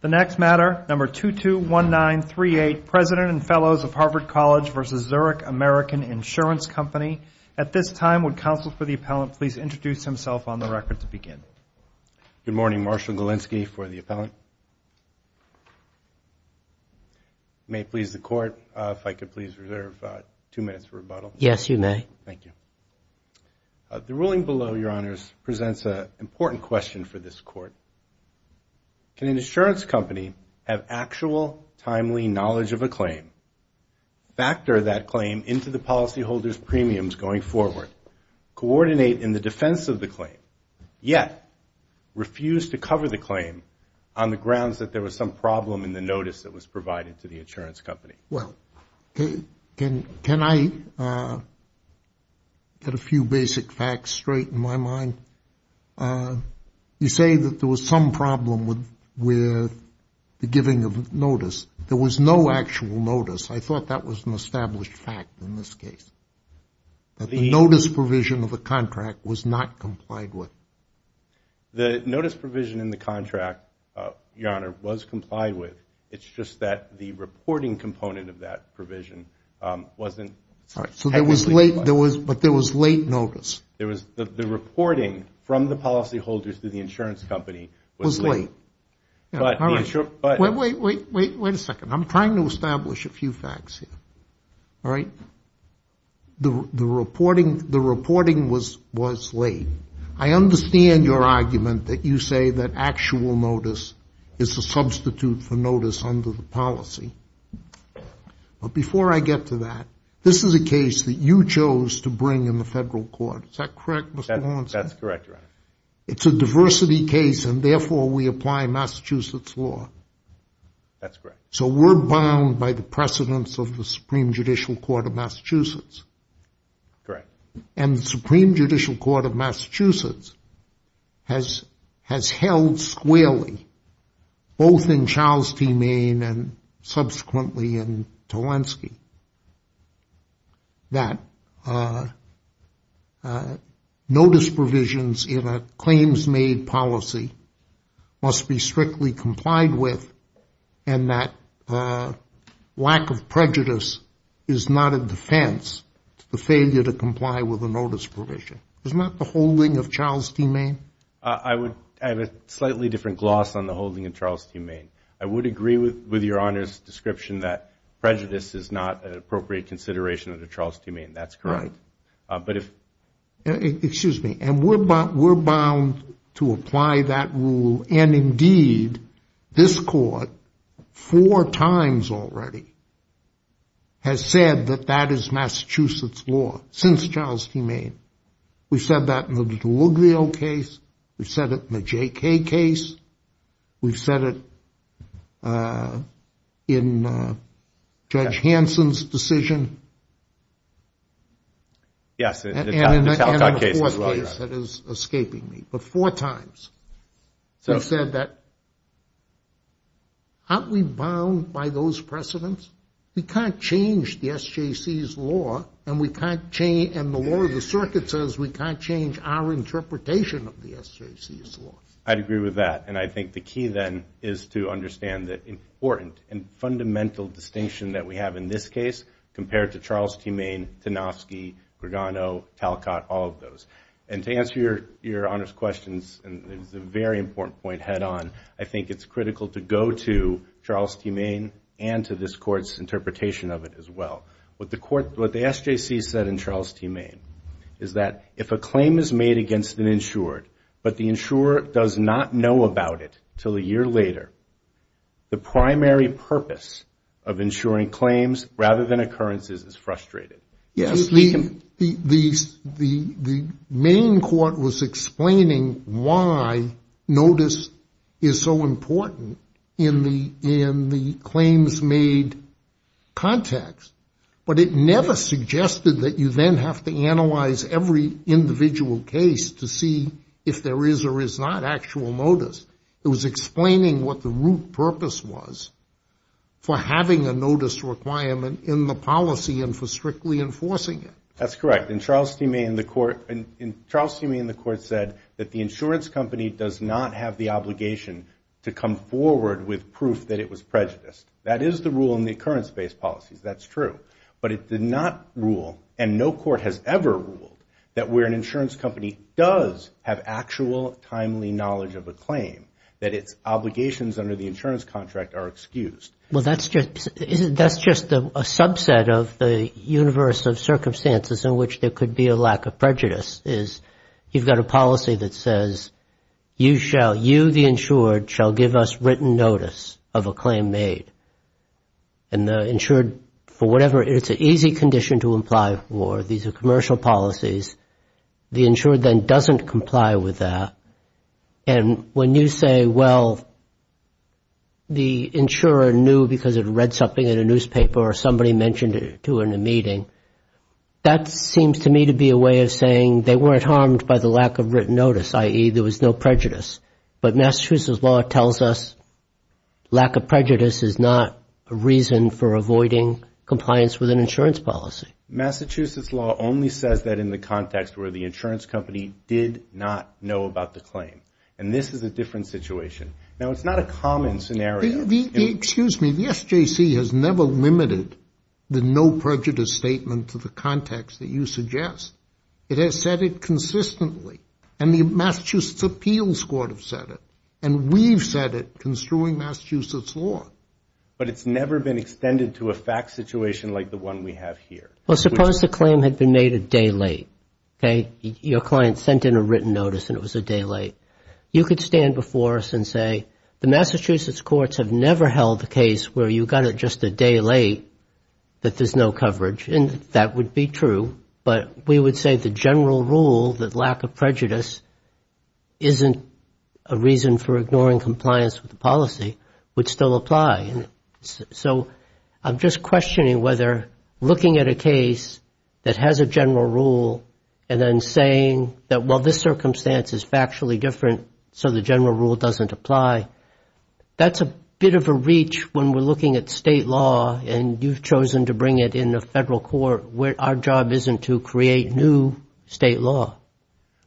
The next matter, number 221938, President and Fellows of Harvard College v. Zurich American Insurance Company. At this time, would counsel for the appellant please introduce himself on the record to begin. Good morning. Marshall Galinsky for the appellant. May it please the Court, if I could please reserve two minutes for rebuttal. Yes, you may. Thank you. The ruling below, Your Honors, presents an important question for this Court. Can an insurance company have actual, timely knowledge of a claim, factor that claim into the policyholder's premiums going forward, coordinate in the defense of the claim, yet refuse to cover the claim on the grounds that there was some problem in the notice that was provided to the insurance company? Well, can I get a few basic facts straight in my mind? You say that there was some problem with the giving of notice. There was no actual notice. I thought that was an established fact in this case, that the notice provision of the contract was not complied with. The notice provision in the contract, Your Honor, was complied with. It's just that the reporting component of that provision wasn't technically complied. But there was late notice. The reporting from the policyholders to the insurance company was late. Wait a second. I'm trying to establish a few facts here. All right? The reporting was late. I understand your argument that you say that actual notice is a substitute for notice under the policy. But before I get to that, this is a case that you chose to bring in the federal court. Is that correct, Mr. Lawrence? That's correct, Your Honor. It's a diversity case, and therefore we apply Massachusetts law. That's correct. So we're bound by the precedents of the Supreme Judicial Court of Massachusetts. Correct. And the Supreme Judicial Court of Massachusetts has held squarely, both in Charles T. Maine and subsequently in Tolensky, that notice provisions in a claims-made policy must be strictly complied with and that lack of prejudice is not a defense to the failure to comply with a notice provision. Is that the holding of Charles T. Maine? I have a slightly different gloss on the holding of Charles T. Maine. I would agree with Your Honor's description that prejudice is not an appropriate consideration under Charles T. Maine. That's correct. Excuse me. And we're bound to apply that rule. And, indeed, this court four times already has said that that is Massachusetts law since Charles T. Maine. We've said that in the Deluglio case. We've said it in the J.K. case. We've said it in Judge Hansen's decision. Yes, the Talcott case. And in the fourth case that is escaping me. But four times we've said that aren't we bound by those precedents? We can't change the SJC's law, and the law of the circuit says we can't change our interpretation of the SJC's law. I'd agree with that. And I think the key then is to understand the important and fundamental distinction that we have in this case compared to Charles T. Maine, Tanofsky, Grigano, Talcott, all of those. And to answer Your Honor's questions, and it's a very important point head on, I think it's critical to go to Charles T. Maine and to this court's interpretation of it as well. What the SJC said in Charles T. Maine is that if a claim is made against an insured, but the insurer does not know about it until a year later, the primary purpose of insuring claims rather than occurrences is frustrated. Yes. The Maine court was explaining why notice is so important in the claims made context, but it never suggested that you then have to analyze every individual case to see if there is or is not actual notice. It was explaining what the root purpose was for having a notice requirement in the policy and for strictly enforcing it. That's correct. In Charles T. Maine, the court said that the insurance company does not have the obligation to come forward with proof that it was prejudiced. That is the rule in the occurrence-based policies. That's true. But it did not rule, and no court has ever ruled, that where an insurance company does have actual timely knowledge of a claim, that its obligations under the insurance contract are excused. Well, that's just a subset of the universe of circumstances in which there could be a lack of prejudice, is you've got a policy that says, you, the insured, shall give us written notice of a claim made. And the insured, for whatever, it's an easy condition to imply war. These are commercial policies. The insured then doesn't comply with that. And when you say, well, the insurer knew because it read something in a newspaper or somebody mentioned it to her in a meeting, that seems to me to be a way of saying they weren't harmed by the lack of written notice, i.e., there was no prejudice. But Massachusetts law tells us lack of prejudice is not a reason for avoiding compliance with an insurance policy. Massachusetts law only says that in the context where the insurance company did not know about the claim. And this is a different situation. Now, it's not a common scenario. Excuse me. The SJC has never limited the no prejudice statement to the context that you suggest. It has said it consistently. And the Massachusetts Appeals Court have said it. And we've said it construing Massachusetts law. But it's never been extended to a fact situation like the one we have here. Well, suppose the claim had been made a day late. Okay? Your client sent in a written notice and it was a day late. You could stand before us and say, the Massachusetts courts have never held a case where you got it just a day late that there's no coverage. And that would be true. But we would say the general rule that lack of prejudice isn't a reason for ignoring compliance with the policy would still apply. So I'm just questioning whether looking at a case that has a general rule and then saying that while this circumstance is factually different, so the general rule doesn't apply, that's a bit of a reach when we're looking at state law and you've chosen to bring it in the federal court where our job isn't to create new state law.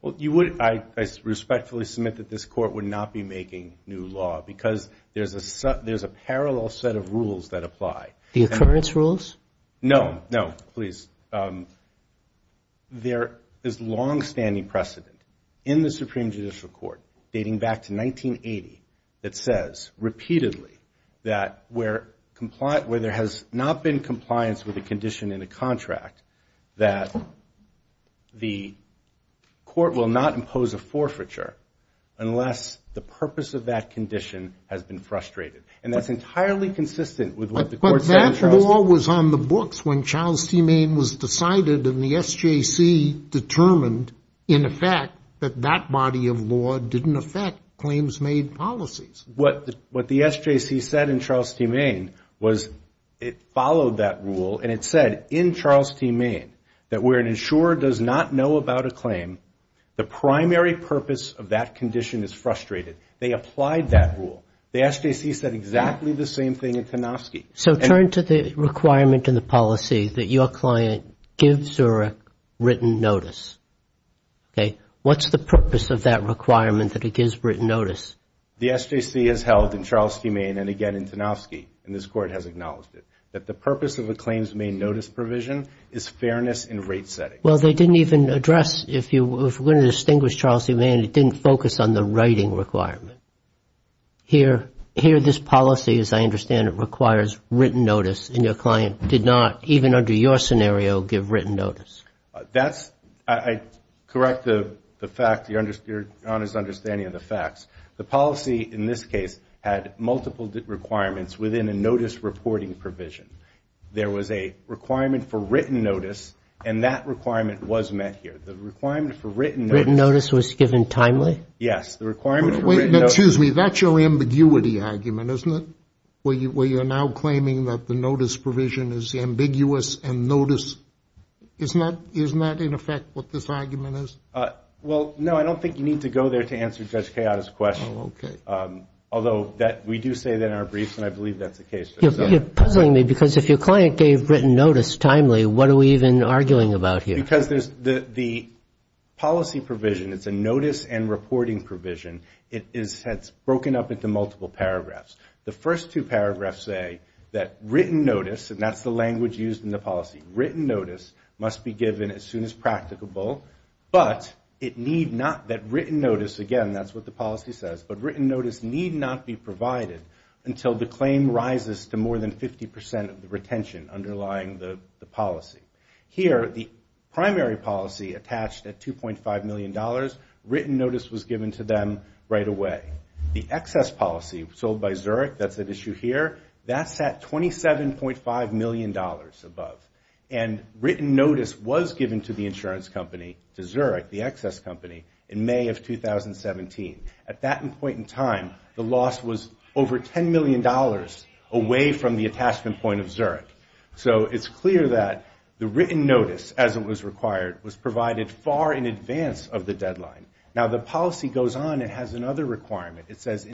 Well, I respectfully submit that this court would not be making new law because there's a parallel set of rules that apply. The occurrence rules? No, no, please. There is longstanding precedent in the Supreme Judicial Court dating back to 1980 that says repeatedly that where there has not been compliance with a condition in a contract that the court will not impose a forfeiture unless the purpose of that condition has been frustrated. And that's entirely consistent with what the court said in Charleston. The claim was decided and the SJC determined in effect that that body of law didn't affect claims made policies. What the SJC said in Charleston, Maine, was it followed that rule and it said in Charleston, Maine, that where an insurer does not know about a claim, the primary purpose of that condition is frustrated. They applied that rule. The SJC said exactly the same thing in Kanofsky. So turn to the requirement in the policy that your client gives a written notice. Okay. What's the purpose of that requirement that it gives written notice? The SJC has held in Charleston, Maine, and again in Kanofsky, and this court has acknowledged it, that the purpose of a claims made notice provision is fairness in rate setting. Well, they didn't even address, if you were going to distinguish Charleston, Maine, it didn't focus on the writing requirement. Here this policy, as I understand it, requires written notice and your client did not, even under your scenario, give written notice. That's, I correct the fact, your Honor's understanding of the facts. The policy in this case had multiple requirements within a notice reporting provision. There was a requirement for written notice and that requirement was met here. The requirement for written notice. Written notice was given timely? Yes. The requirement for written notice. Excuse me, that's your ambiguity argument, isn't it? Where you're now claiming that the notice provision is ambiguous and notice, isn't that in effect what this argument is? Well, no, I don't think you need to go there to answer Judge Kayotta's question. Oh, okay. Although we do say that in our briefs and I believe that's the case. You're puzzling me because if your client gave written notice timely, what are we even arguing about here? Because the policy provision, it's a notice and reporting provision, it's broken up into multiple paragraphs. The first two paragraphs say that written notice, and that's the language used in the policy, written notice must be given as soon as practicable, but it need not, that written notice, again, that's what the policy says, but written notice need not be provided until the claim rises to more than 50% of the retention underlying the policy. Here, the primary policy attached at $2.5 million, written notice was given to them right away. The excess policy sold by Zurich, that's at issue here, that's at $27.5 million above. And written notice was given to the insurance company, to Zurich, the excess company, in May of 2017. At that point in time, the loss was over $10 million away from the attachment point of Zurich. So it's clear that the written notice, as it was required, was provided far in advance of the deadline. Now, the policy goes on and has another requirement.